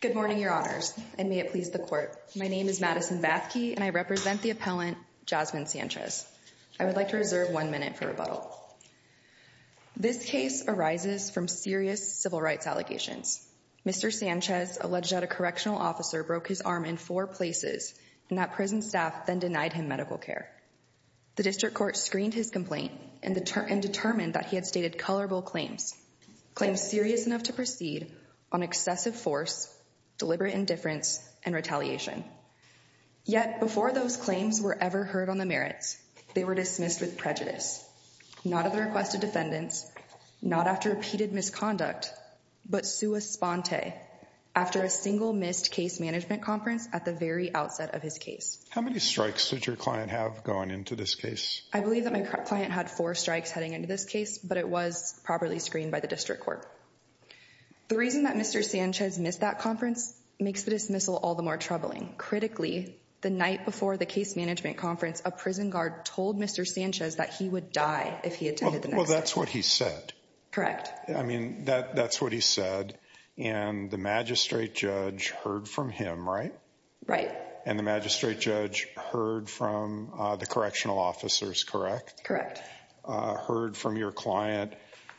Good morning, your honors, and may it please the court. My name is Madison Bathke, and I represent the appellant Jasmine Sanchez. I would like to reserve one minute for rebuttal. This case arises from serious civil rights allegations. Mr. Sanchez alleged that a correctional officer broke his arm in four places, and that prison staff then denied him medical care. The district court screened his complaint and determined that he had stated colorable claims, claims serious enough to proceed on excessive force, deliberate indifference, and retaliation. Yet before those claims were ever heard on the merits, they were dismissed with prejudice, not at the request of defendants, not after repeated misconduct, but sua sponte, after a single missed case management conference at the very outset of his case. How many strikes did your client have going into this case? I believe that my client had four strikes heading into this case, but it was properly screened by the district court. The reason that Mr. Sanchez missed that conference makes the dismissal all the more troubling. Critically, the night before the case management conference, a prison guard told Mr. Sanchez that he would die if he attended. Well, that's what he said. Correct. I mean, that that's what he said. And the magistrate judge heard from him. Right. Right. And the magistrate judge heard from the correctional officers. Correct. Correct. And the magistrate judge heard from your client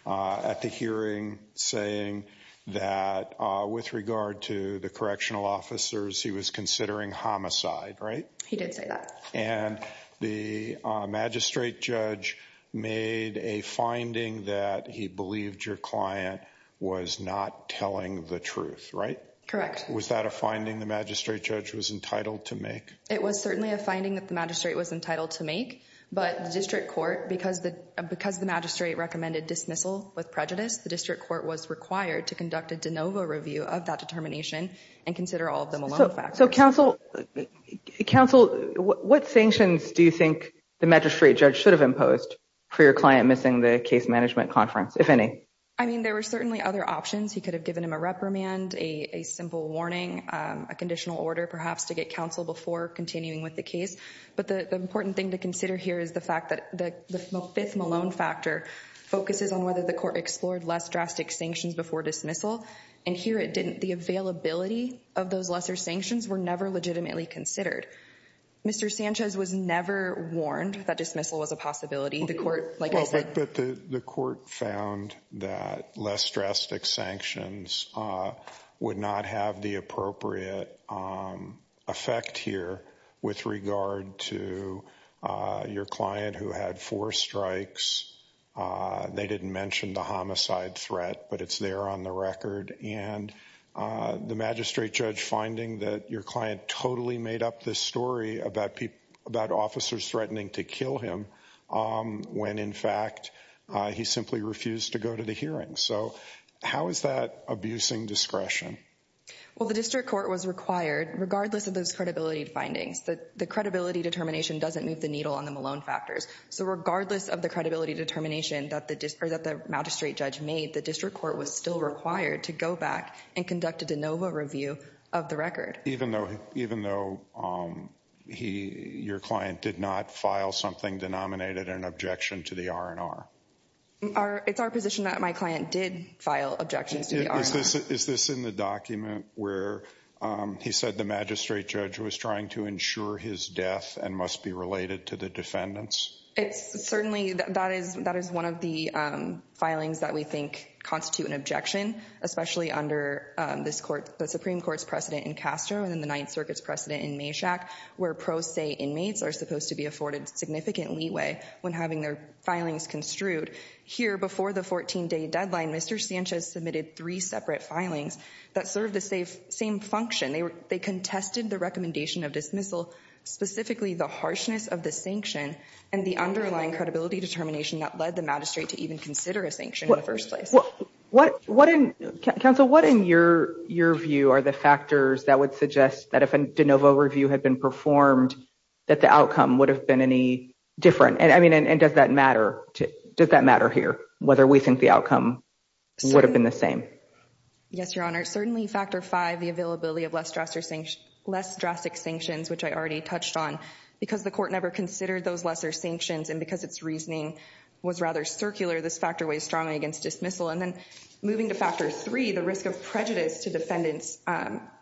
at the hearing, saying that with regard to the correctional officers, he was considering homicide. Right. He did say that. And the magistrate judge made a finding that he believed your client was not telling the truth. Right. Correct. Was that a finding the magistrate judge was entitled to make? It was certainly a finding that the magistrate was entitled to make. But the district court, because the because the magistrate recommended dismissal with prejudice, the district court was required to conduct a de novo review of that determination and consider all of them. So counsel counsel, what sanctions do you think the magistrate judge should have imposed for your client missing the case management conference, if any? I mean, there were certainly other options. He could have given him a reprimand, a simple warning, a conditional order, perhaps to get counsel before continuing with the case. But the important thing to consider here is the fact that the fifth Malone factor focuses on whether the court explored less drastic sanctions before dismissal. And here it didn't. The availability of those lesser sanctions were never legitimately considered. Mr. Sanchez was never warned that dismissal was a possibility. The court. But the court found that less drastic sanctions would not have the appropriate effect here with regard to your client who had four strikes. They didn't mention the homicide threat, but it's there on the record. And the magistrate judge finding that your client totally made up this story about people about officers threatening to kill him when, in fact, he simply refused to go to the hearing. So how is that abusing discretion? Well, the district court was required, regardless of those credibility findings, that the credibility determination doesn't move the needle on the Malone factors. So regardless of the credibility determination that the magistrate judge made, the district court was still required to go back and conduct a de novo review of the record, even though even though he your client did not file something denominated an objection to the R&R. It's our position that my client did file objections to the R&R. Is this in the document where he said the magistrate judge was trying to ensure his death and must be related to the defendants? Certainly, that is one of the filings that we think constitute an objection, especially under the Supreme Court's precedent in Castro and the Ninth Circuit's precedent in Mayshack, where pro se inmates are supposed to be afforded significant leeway when having their filings construed. Here, before the 14-day deadline, Mr. Sanchez submitted three separate filings that served the same function. They contested the recommendation of dismissal, specifically the harshness of the sanction and the underlying credibility determination that led the magistrate to even consider a sanction in the first place. Counsel, what in your view are the factors that would suggest that if a de novo review had been performed, that the outcome would have been any different? And I mean, does that matter? Does that matter here, whether we think the outcome would have been the same? Yes, Your Honor. Certainly, factor five, the availability of less drastic sanctions, which I already touched on. Because the court never considered those lesser sanctions and because its reasoning was rather circular, this factor weighs strongly against dismissal. And then moving to factor three, the risk of prejudice to defendants.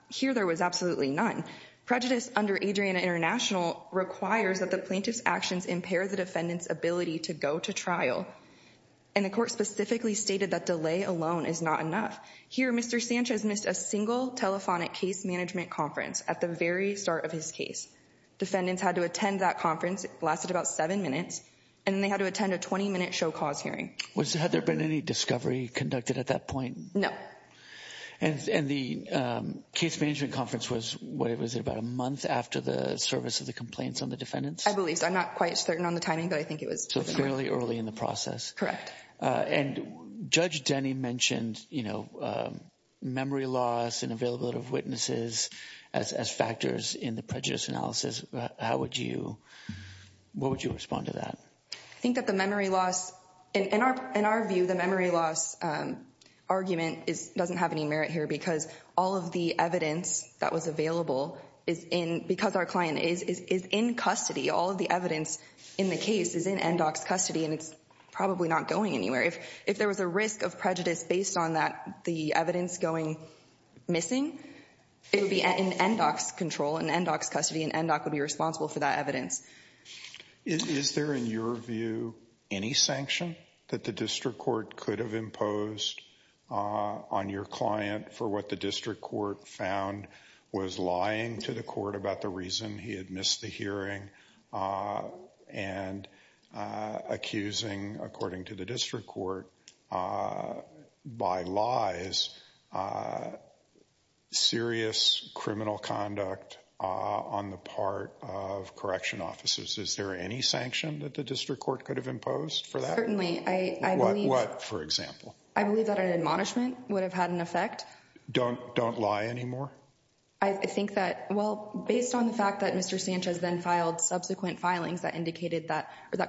Here, there was absolutely none. Prejudice under Adriana International requires that the plaintiff's actions impair the defendant's ability to go to trial. And the court specifically stated that delay alone is not enough. Here, Mr. Sanchez missed a single telephonic case management conference at the very start of his case. Defendants had to attend that conference, lasted about seven minutes, and they had to attend a 20-minute show cause hearing. Had there been any discovery conducted at that point? No. And the case management conference was, what was it, about a month after the service of the complaints on the defendants? I believe so. I'm not quite certain on the timing, but I think it was. So fairly early in the process. Correct. And Judge Denny mentioned, you know, memory loss and availability of witnesses as factors in the prejudice analysis. How would you, what would you respond to that? I think that the memory loss, in our view, the memory loss argument doesn't have any merit here because all of the evidence that was available is in, because our client is in custody. All of the evidence in the case is in NDOC's custody and it's probably not going anywhere. If there was a risk of prejudice based on that, the evidence going missing, it would be in NDOC's control and NDOC's custody and NDOC would be responsible for that evidence. Is there, in your view, any sanction that the district court could have imposed on your client for what the district court found was lying to the court about the reason he had missed the hearing and accusing, according to the district court, by lies, serious criminal conduct on the part of correction officers? Is there any sanction that the district court could have imposed for that? What, for example? I believe that an admonishment would have had an effect. Don't lie anymore? I think that, well, based on the fact that Mr. Sanchez then filed subsequent filings that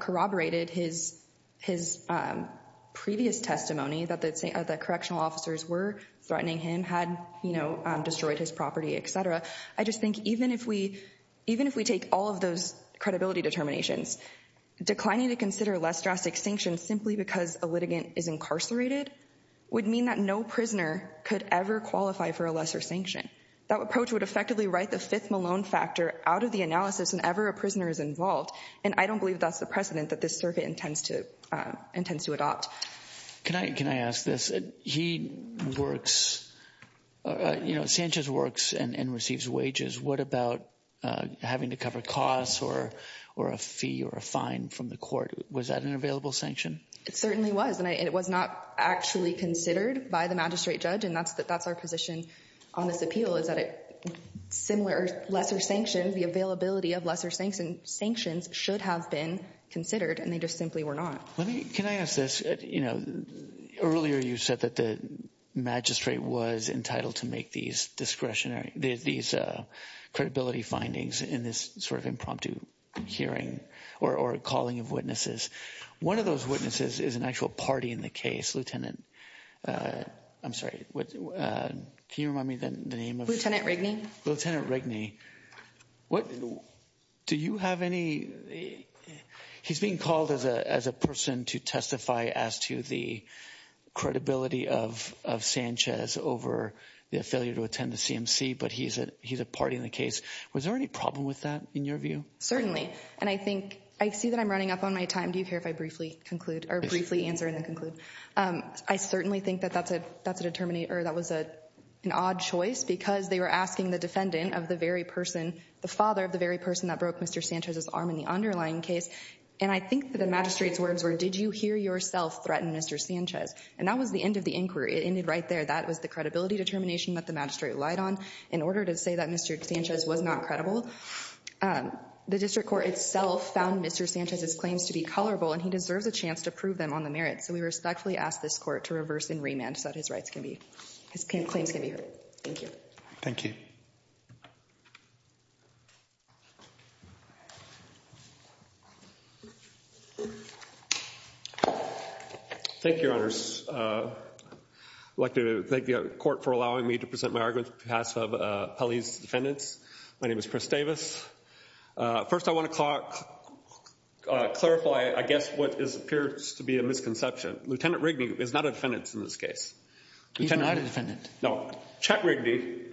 corroborated his previous testimony that the correctional officers were threatening him, had destroyed his property, etc. I just think even if we take all of those credibility determinations, declining to consider less drastic sanctions simply because a litigant is incarcerated would mean that no prisoner could ever qualify for a lesser sanction. That approach would effectively write the fifth Malone factor out of the analysis whenever a prisoner is involved and I don't believe that's the precedent that this circuit intends to adopt. Can I ask this? He works, you know, Sanchez works and receives wages. What about having to cover costs or a fee or a fine from the court? Was that an available sanction? It certainly was, and it was not actually considered by the magistrate judge, and that's our position on this appeal, is that a similar, lesser sanction, the availability of lesser sanctions should have been considered, and they just simply were not. Can I ask this? You know, earlier you said that the magistrate was entitled to make these discretionary, these credibility findings in this sort of impromptu hearing or calling of witnesses. One of those witnesses is an actual party in the case. Lieutenant. I'm sorry. Can you remind me the name of Lieutenant Rigney? Lieutenant Rigney. What do you have any? He's being called as a person to testify as to the credibility of Sanchez over the failure to attend the CMC, but he's a party in the case. Was there any problem with that in your view? Certainly, and I think I see that I'm running up on my time. Do you care if I briefly conclude or briefly answer and then conclude? I certainly think that that was an odd choice because they were asking the defendant of the very person, the father of the very person that broke Mr. Sanchez's arm in the underlying case, and I think that the magistrate's words were, did you hear yourself threaten Mr. Sanchez? And that was the end of the inquiry. It ended right there. That was the credibility determination that the magistrate relied on in order to say that Mr. Sanchez was not credible. The district court itself found Mr. Sanchez's claims to be colorable, and he deserves a chance to prove them on the merits, so we respectfully ask this court to reverse and remand so that his claims can be heard. Thank you. Thank you. Thank you, Your Honors. I'd like to thank the court for allowing me to present my argument on behalf of Pelley's defendants. My name is Chris Davis. First, I want to clarify, I guess, what appears to be a misconception. Lieutenant Rigney is not a defendant in this case. He's not a defendant. No. Chet Rigney,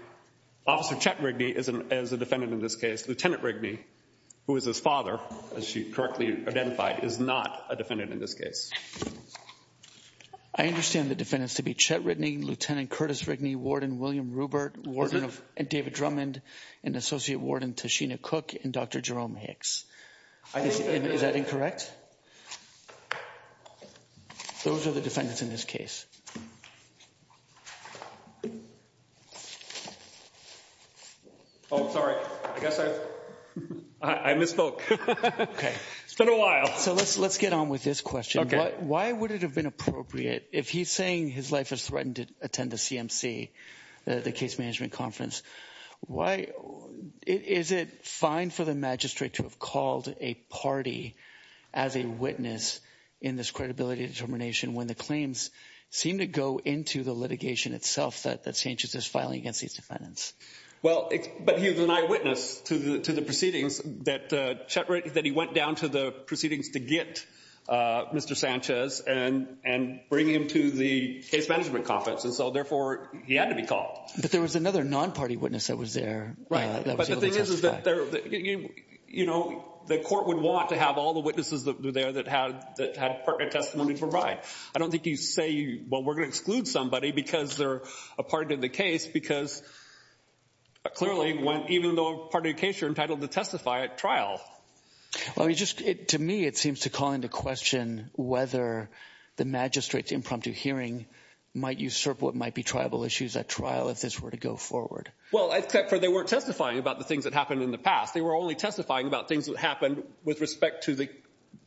Officer Chet Rigney, is a defendant in this case. Lieutenant Rigney, who is his father, as she correctly identified, is not a defendant in this case. I understand the defendants to be Chet Rigney, Lieutenant Curtis Rigney, Warden William Rupert, Warden David Drummond, and Associate Warden Tashina Cook, and Dr. Jerome Hicks. Is that incorrect? Those are the defendants in this case. Oh, sorry. I guess I misspoke. Okay. It's been a while. So let's get on with this question. Why would it have been appropriate, if he's saying his wife has threatened to attend the CMC, the case management conference, is it fine for the magistrate to have called a party as a witness in this credibility determination when the claims seem to go into the litigation itself that St. Justice is filing against these defendants? Well, but he was an eyewitness to the proceedings that Chet Rigney, that he went down to the proceedings to get Mr. Sanchez and bring him to the case management conference. And so, therefore, he had to be called. But there was another non-party witness that was there. That was able to testify. You know, the court would want to have all the witnesses that were there that had testimony to provide. I don't think you say, well, we're going to exclude somebody because they're a part of the case. Because clearly, even though a part of the case, you're entitled to testify at trial. Well, to me, it seems to call into question whether the magistrate's impromptu hearing might usurp what might be tribal issues at trial if this were to go forward. Well, except for they weren't testifying about the things that happened in the past. They were only testifying about things that happened with respect to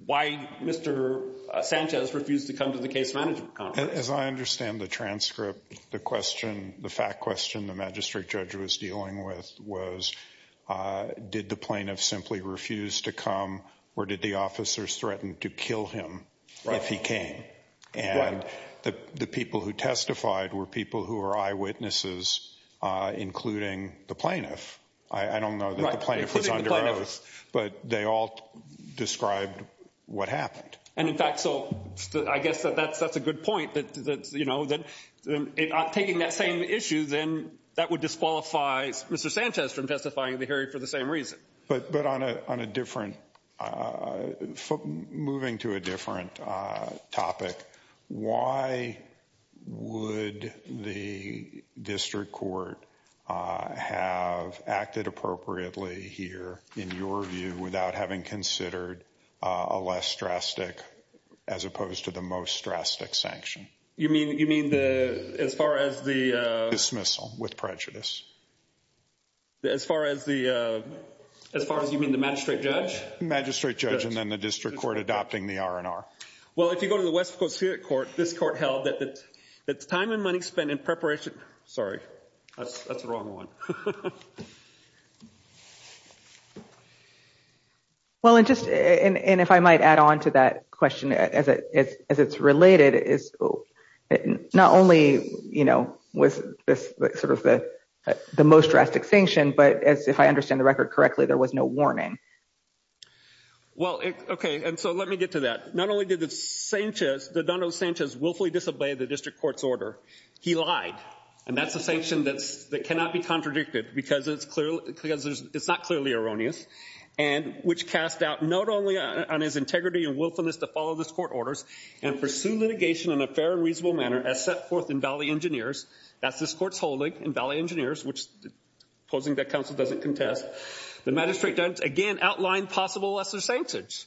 why Mr. Sanchez refused to come to the case management conference. As I understand the transcript, the question, the fact question the magistrate judge was dealing with was, did the plaintiff simply refuse to come? Or did the officers threaten to kill him if he came? And the people who testified were people who were eyewitnesses, including the plaintiff. I don't know that the plaintiff was under oath, but they all described what happened. And in fact, so I guess that's a good point, that taking that same issue, then that would disqualify Mr. Sanchez from testifying at the hearing for the same reason. But on a different, moving to a different topic, why would the district court have acted appropriately here, in your view, without having considered a less drastic as opposed to the most drastic sanction? You mean as far as the... Dismissal with prejudice. As far as the... As far as you mean the magistrate judge? Magistrate judge and then the district court adopting the R&R. Well, if you go to the West Pacific Court, this court held that the time and money spent in preparation... Sorry, that's the wrong one. Well, and if I might add on to that question as it's related, not only was this sort of the most drastic sanction, but as if I understand the record correctly, there was no warning. Well, okay, and so let me get to that. The magistrate judge, not only did Adondo Sanchez willfully disobey the district court's order, he lied. And that's a sanction that cannot be contradicted because it's not clearly erroneous, which cast doubt not only on his integrity and willfulness to follow this court orders and pursue litigation in a fair and reasonable manner as set forth in Valley Engineers, that's this court's holding in Valley Engineers, opposing that counsel doesn't contest. The magistrate judge, again, outlined possible lesser sanctions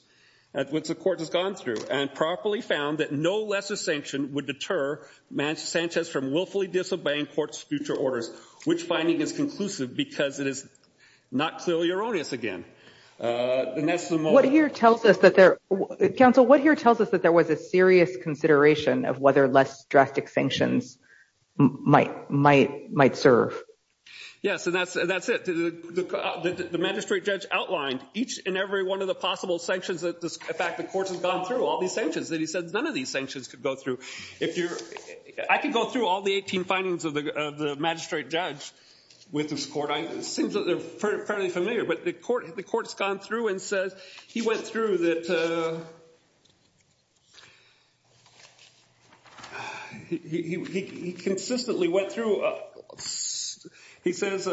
at which the court has gone through and properly found that no lesser sanction would deter Sanchez from willfully disobeying court's future orders, which finding is conclusive because it is not clearly erroneous again. And that's the moment... What here tells us that there... Counsel, what here tells us that there was a serious consideration of whether less drastic sanctions might serve? Yes, and that's it. The magistrate judge outlined each and every one of the possible sanctions that this... In fact, the court has gone through all these sanctions that he said none of these sanctions could go through. If you're... I can go through all the 18 findings of the magistrate judge with this court. It seems that they're fairly familiar, but the court has gone through and says he went through that... He consistently went through... He says...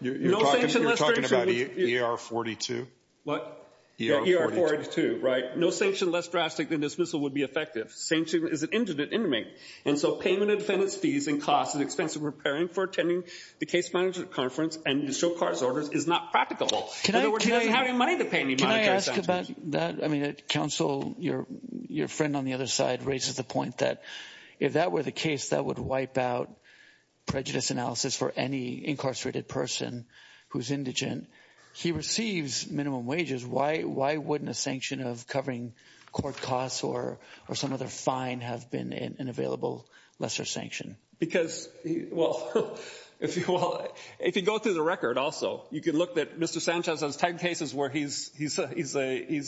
You're talking about ER-42? What? ER-42. ER-42, right. No sanction less drastic than dismissal would be effective. And so payment of defendant's fees and costs is expensive. Preparing for attending the case management conference and show court's orders is not practicable. In other words, he doesn't have any money to pay any monetary sanctions. Can I ask about that? Counsel, your friend on the other side raises the point that if that were the case, that would wipe out prejudice analysis for any incarcerated person who's indigent. He receives minimum wages. Why wouldn't a sanction of covering court costs or some other fine have been an available lesser sanction? Because... Well, if you go through the record also, you can look at Mr. Sanchez's 10 cases where he's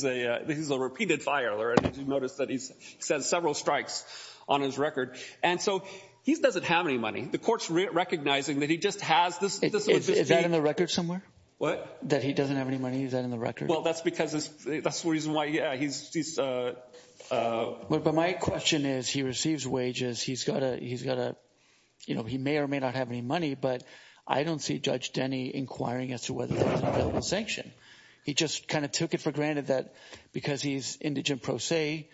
a repeated filer. And you notice that he says several strikes on his record. And so he doesn't have any money. The court's recognizing that he just has this... Is that in the record somewhere? What? That he doesn't have any money? Is that in the record? Well, that's because... That's the reason why he's... But my question is, he receives wages. He's got a... You know, he may or may not have any money. But I don't see Judge Denny inquiring as to whether there's an available sanction. He just kind of took it for granted that because he's indigent pro se,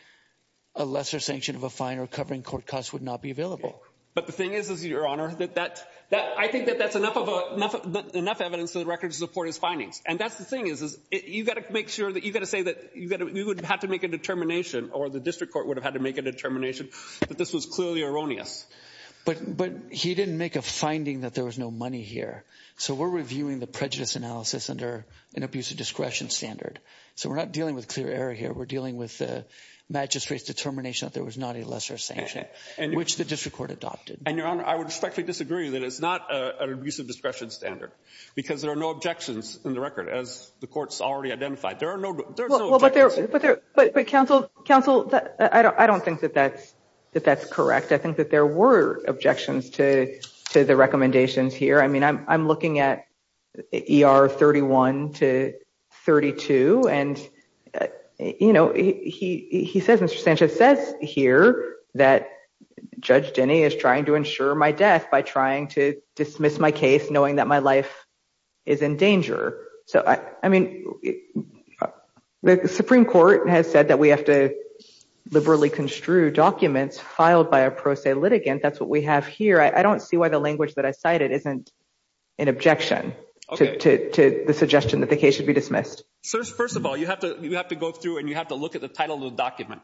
a lesser sanction of a fine or covering court costs would not be available. But the thing is, Your Honor, that I think that that's enough evidence for the record to support his findings. And that's the thing. You've got to make sure that... You've got to say that we would have to make a determination or the district court would have had to make a determination that this was clearly erroneous. But he didn't make a finding that there was no money here. So we're reviewing the prejudice analysis under an abusive discretion standard. So we're not dealing with clear error here. We're dealing with the magistrate's determination that there was not a lesser sanction, which the district court adopted. And, Your Honor, I would respectfully disagree that it's not an abusive discretion standard. Because there are no objections in the record, as the court's already identified. There are no... But, Counsel, I don't think that that's correct. I think that there were objections to the recommendations here. I mean, I'm looking at ER 31 to 32. And, you know, he says, Mr. Sanchez, says here that Judge Denny is trying to ensure my death by trying to dismiss my case, knowing that my life is in danger. So, I mean, the Supreme Court has said that we have to liberally construe documents filed by a pro se litigant. That's what we have here. I don't see why the language that I cited isn't an objection to the suggestion that the case should be dismissed. First of all, you have to go through and you have to look at the title of the document.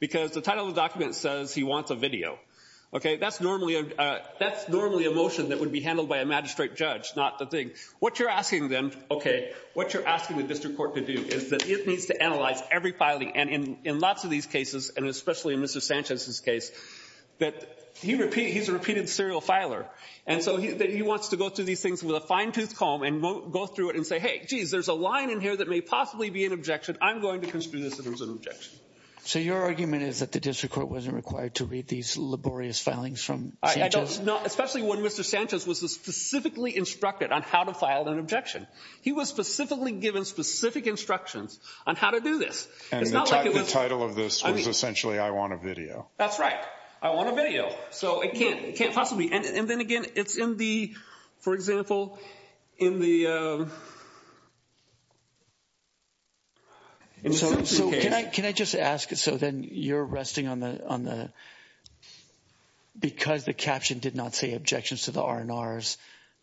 Because the title of the document says he wants a video. Okay, that's normally a motion that would be handled by a magistrate judge, not the thing. What you're asking then, okay, what you're asking the district court to do is that it needs to analyze every filing. And in lots of these cases, and especially in Mr. Sanchez's case, that he's a repeated serial filer. And so he wants to go through these things with a fine tooth comb and go through it and say, hey, geez, there's a line in here that may possibly be an objection. I'm going to construe this as an objection. So your argument is that the district court wasn't required to read these laborious filings from Sanchez? No, especially when Mr. Sanchez was specifically instructed on how to file an objection. He was specifically given specific instructions on how to do this. And the title of this was essentially, I want a video. That's right. I want a video. So it can't possibly. And then again, it's in the, for example, in the Simpson case. So can I just ask, so then you're resting on the, because the caption did not say objections to the R&Rs,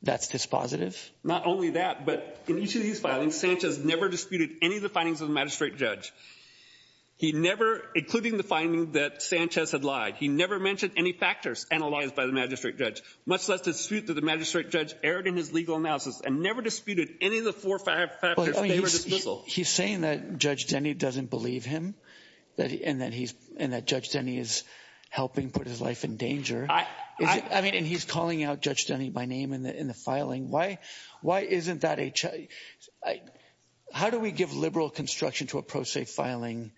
that's dispositive? Not only that, but in each of these filings, Sanchez never disputed any of the findings of the magistrate judge. He never, including the finding that Sanchez had lied. He never mentioned any factors analyzed by the magistrate judge. Much less dispute that the magistrate judge erred in his legal analysis and never disputed any of the four factors. He's saying that Judge Denny doesn't believe him and that Judge Denny is helping put his life in danger. I mean, and he's calling out Judge Denny by name in the filing. Why isn't that a, how do we give liberal construction to a pro se filing?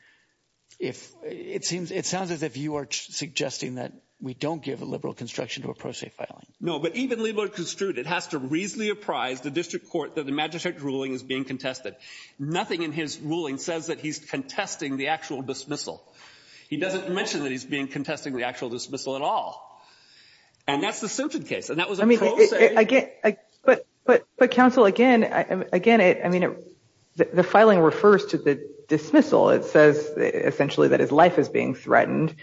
It sounds as if you are suggesting that we don't give a liberal construction to a pro se filing. No, but even liberal construed, it has to reasonably apprise the district court that the magistrate ruling is being contested. Nothing in his ruling says that he's contesting the actual dismissal. He doesn't mention that he's being contesting the actual dismissal at all. And that's the Simpson case. And that was a pro se. But, but, but counsel, again, again, I mean, the filing refers to the dismissal. It says essentially that his life is being threatened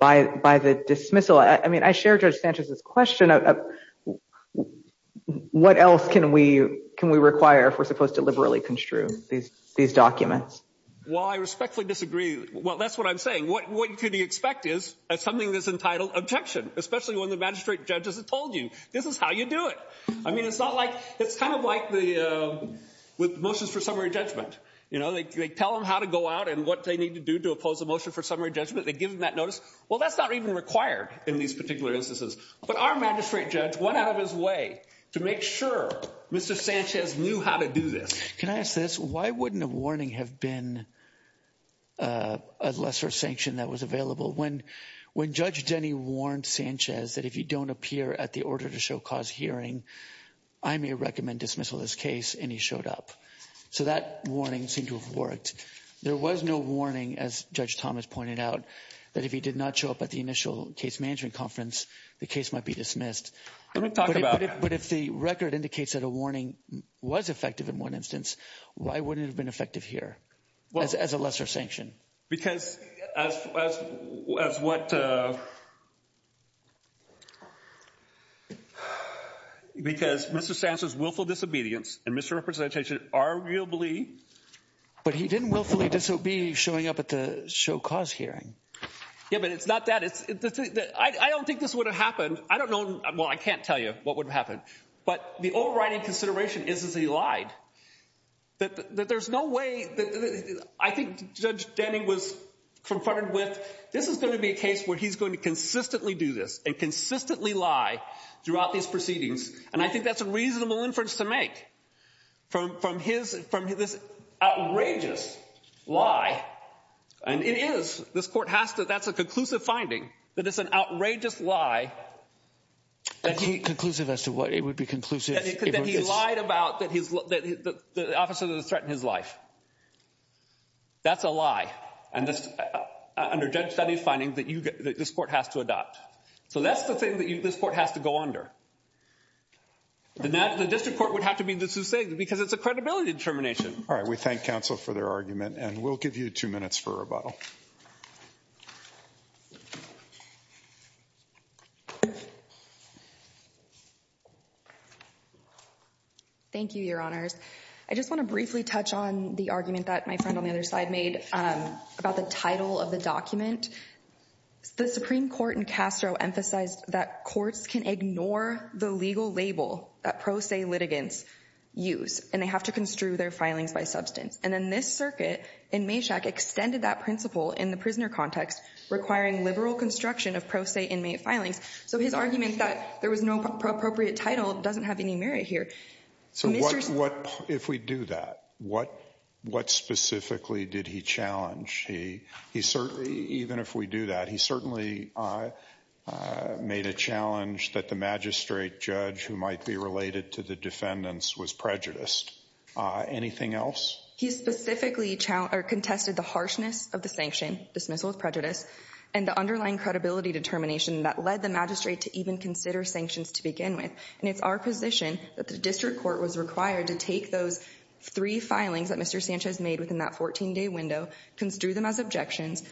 by by the dismissal. I mean, I share Judge Sanchez's question. What else can we can we require if we're supposed to liberally construe these these documents? Well, I respectfully disagree. Well, that's what I'm saying. What could he expect is something that's entitled objection, especially when the magistrate judges have told you this is how you do it. I mean, it's not like it's kind of like the motions for summary judgment. You know, they tell them how to go out and what they need to do to oppose a motion for summary judgment. They give them that notice. Well, that's not even required in these particular instances. But our magistrate judge went out of his way to make sure Mr. Sanchez knew how to do this. Can I ask this? Why wouldn't a warning have been a lesser sanction that was available when when Judge Denny warned Sanchez that if you don't appear at the order to show cause hearing, I may recommend dismissal this case. And he showed up. So that warning seemed to have worked. There was no warning, as Judge Thomas pointed out, that if he did not show up at the initial case management conference, the case might be dismissed. Let me talk about it. But if the record indicates that a warning was effective in one instance, why wouldn't it have been effective here as a lesser sanction? Because as what? Because Mr. Sanchez's willful disobedience and misrepresentation arguably. But he didn't willfully disobey showing up at the show cause hearing. Yeah, but it's not that it's I don't think this would have happened. I don't know. Well, I can't tell you what would happen. But the overriding consideration is, is he lied that there's no way that I think Judge Denny was confronted with. This is going to be a case where he's going to consistently do this and consistently lie throughout these proceedings. And I think that's a reasonable inference to make from from his from this outrageous lie. And it is. This court has to. That's a conclusive finding that it's an outrageous lie. Conclusive as to what? It would be conclusive. He lied about that. He's the officer that threatened his life. That's a lie. And this under Judge Denny's finding that you get that this court has to adopt. So that's the thing that this court has to go under. The district court would have to be the Sussex because it's a credibility determination. All right. We thank counsel for their argument and we'll give you two minutes for rebuttal. Thank you, your honors. I just want to briefly touch on the argument that my friend on the other side made about the title of the document. The Supreme Court in Castro emphasized that courts can ignore the legal label that pro se litigants use and they have to construe their filings by substance. And then this circuit in Mayshack extended that principle in the prisoner context, requiring liberal construction of pro se inmate filings. So his argument that there was no appropriate title doesn't have any merit here. So what if we do that? What what specifically did he challenge? He he certainly even if we do that, he certainly made a challenge that the magistrate judge who might be related to the defendants was prejudiced. Anything else? He specifically challenged or contested the harshness of the sanction dismissal of prejudice and the underlying credibility determination that led the magistrate to even consider sanctions to begin with. And it's our position that the district court was required to take those three filings that Mr. Sanchez made within that 14 day window, construe them as objections,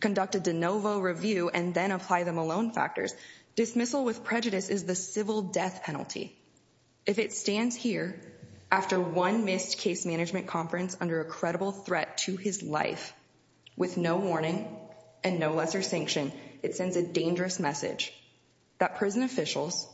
conduct a de novo review and then apply them alone. Factors dismissal with prejudice is the civil death penalty. If it stands here after one missed case management conference under a credible threat to his life with no warning and no lesser sanction, it sends a dangerous message that prison officials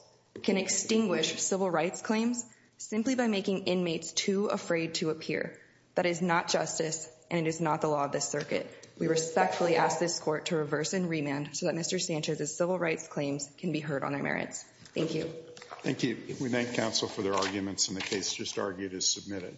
can extinguish civil rights claims simply by making inmates too afraid to appear. That is not justice and it is not the law of this circuit. We respectfully ask this court to reverse and remand so that Mr. Sanchez's civil rights claims can be heard on their merits. Thank you. Thank you. We thank counsel for their arguments and the case just argued is submitted.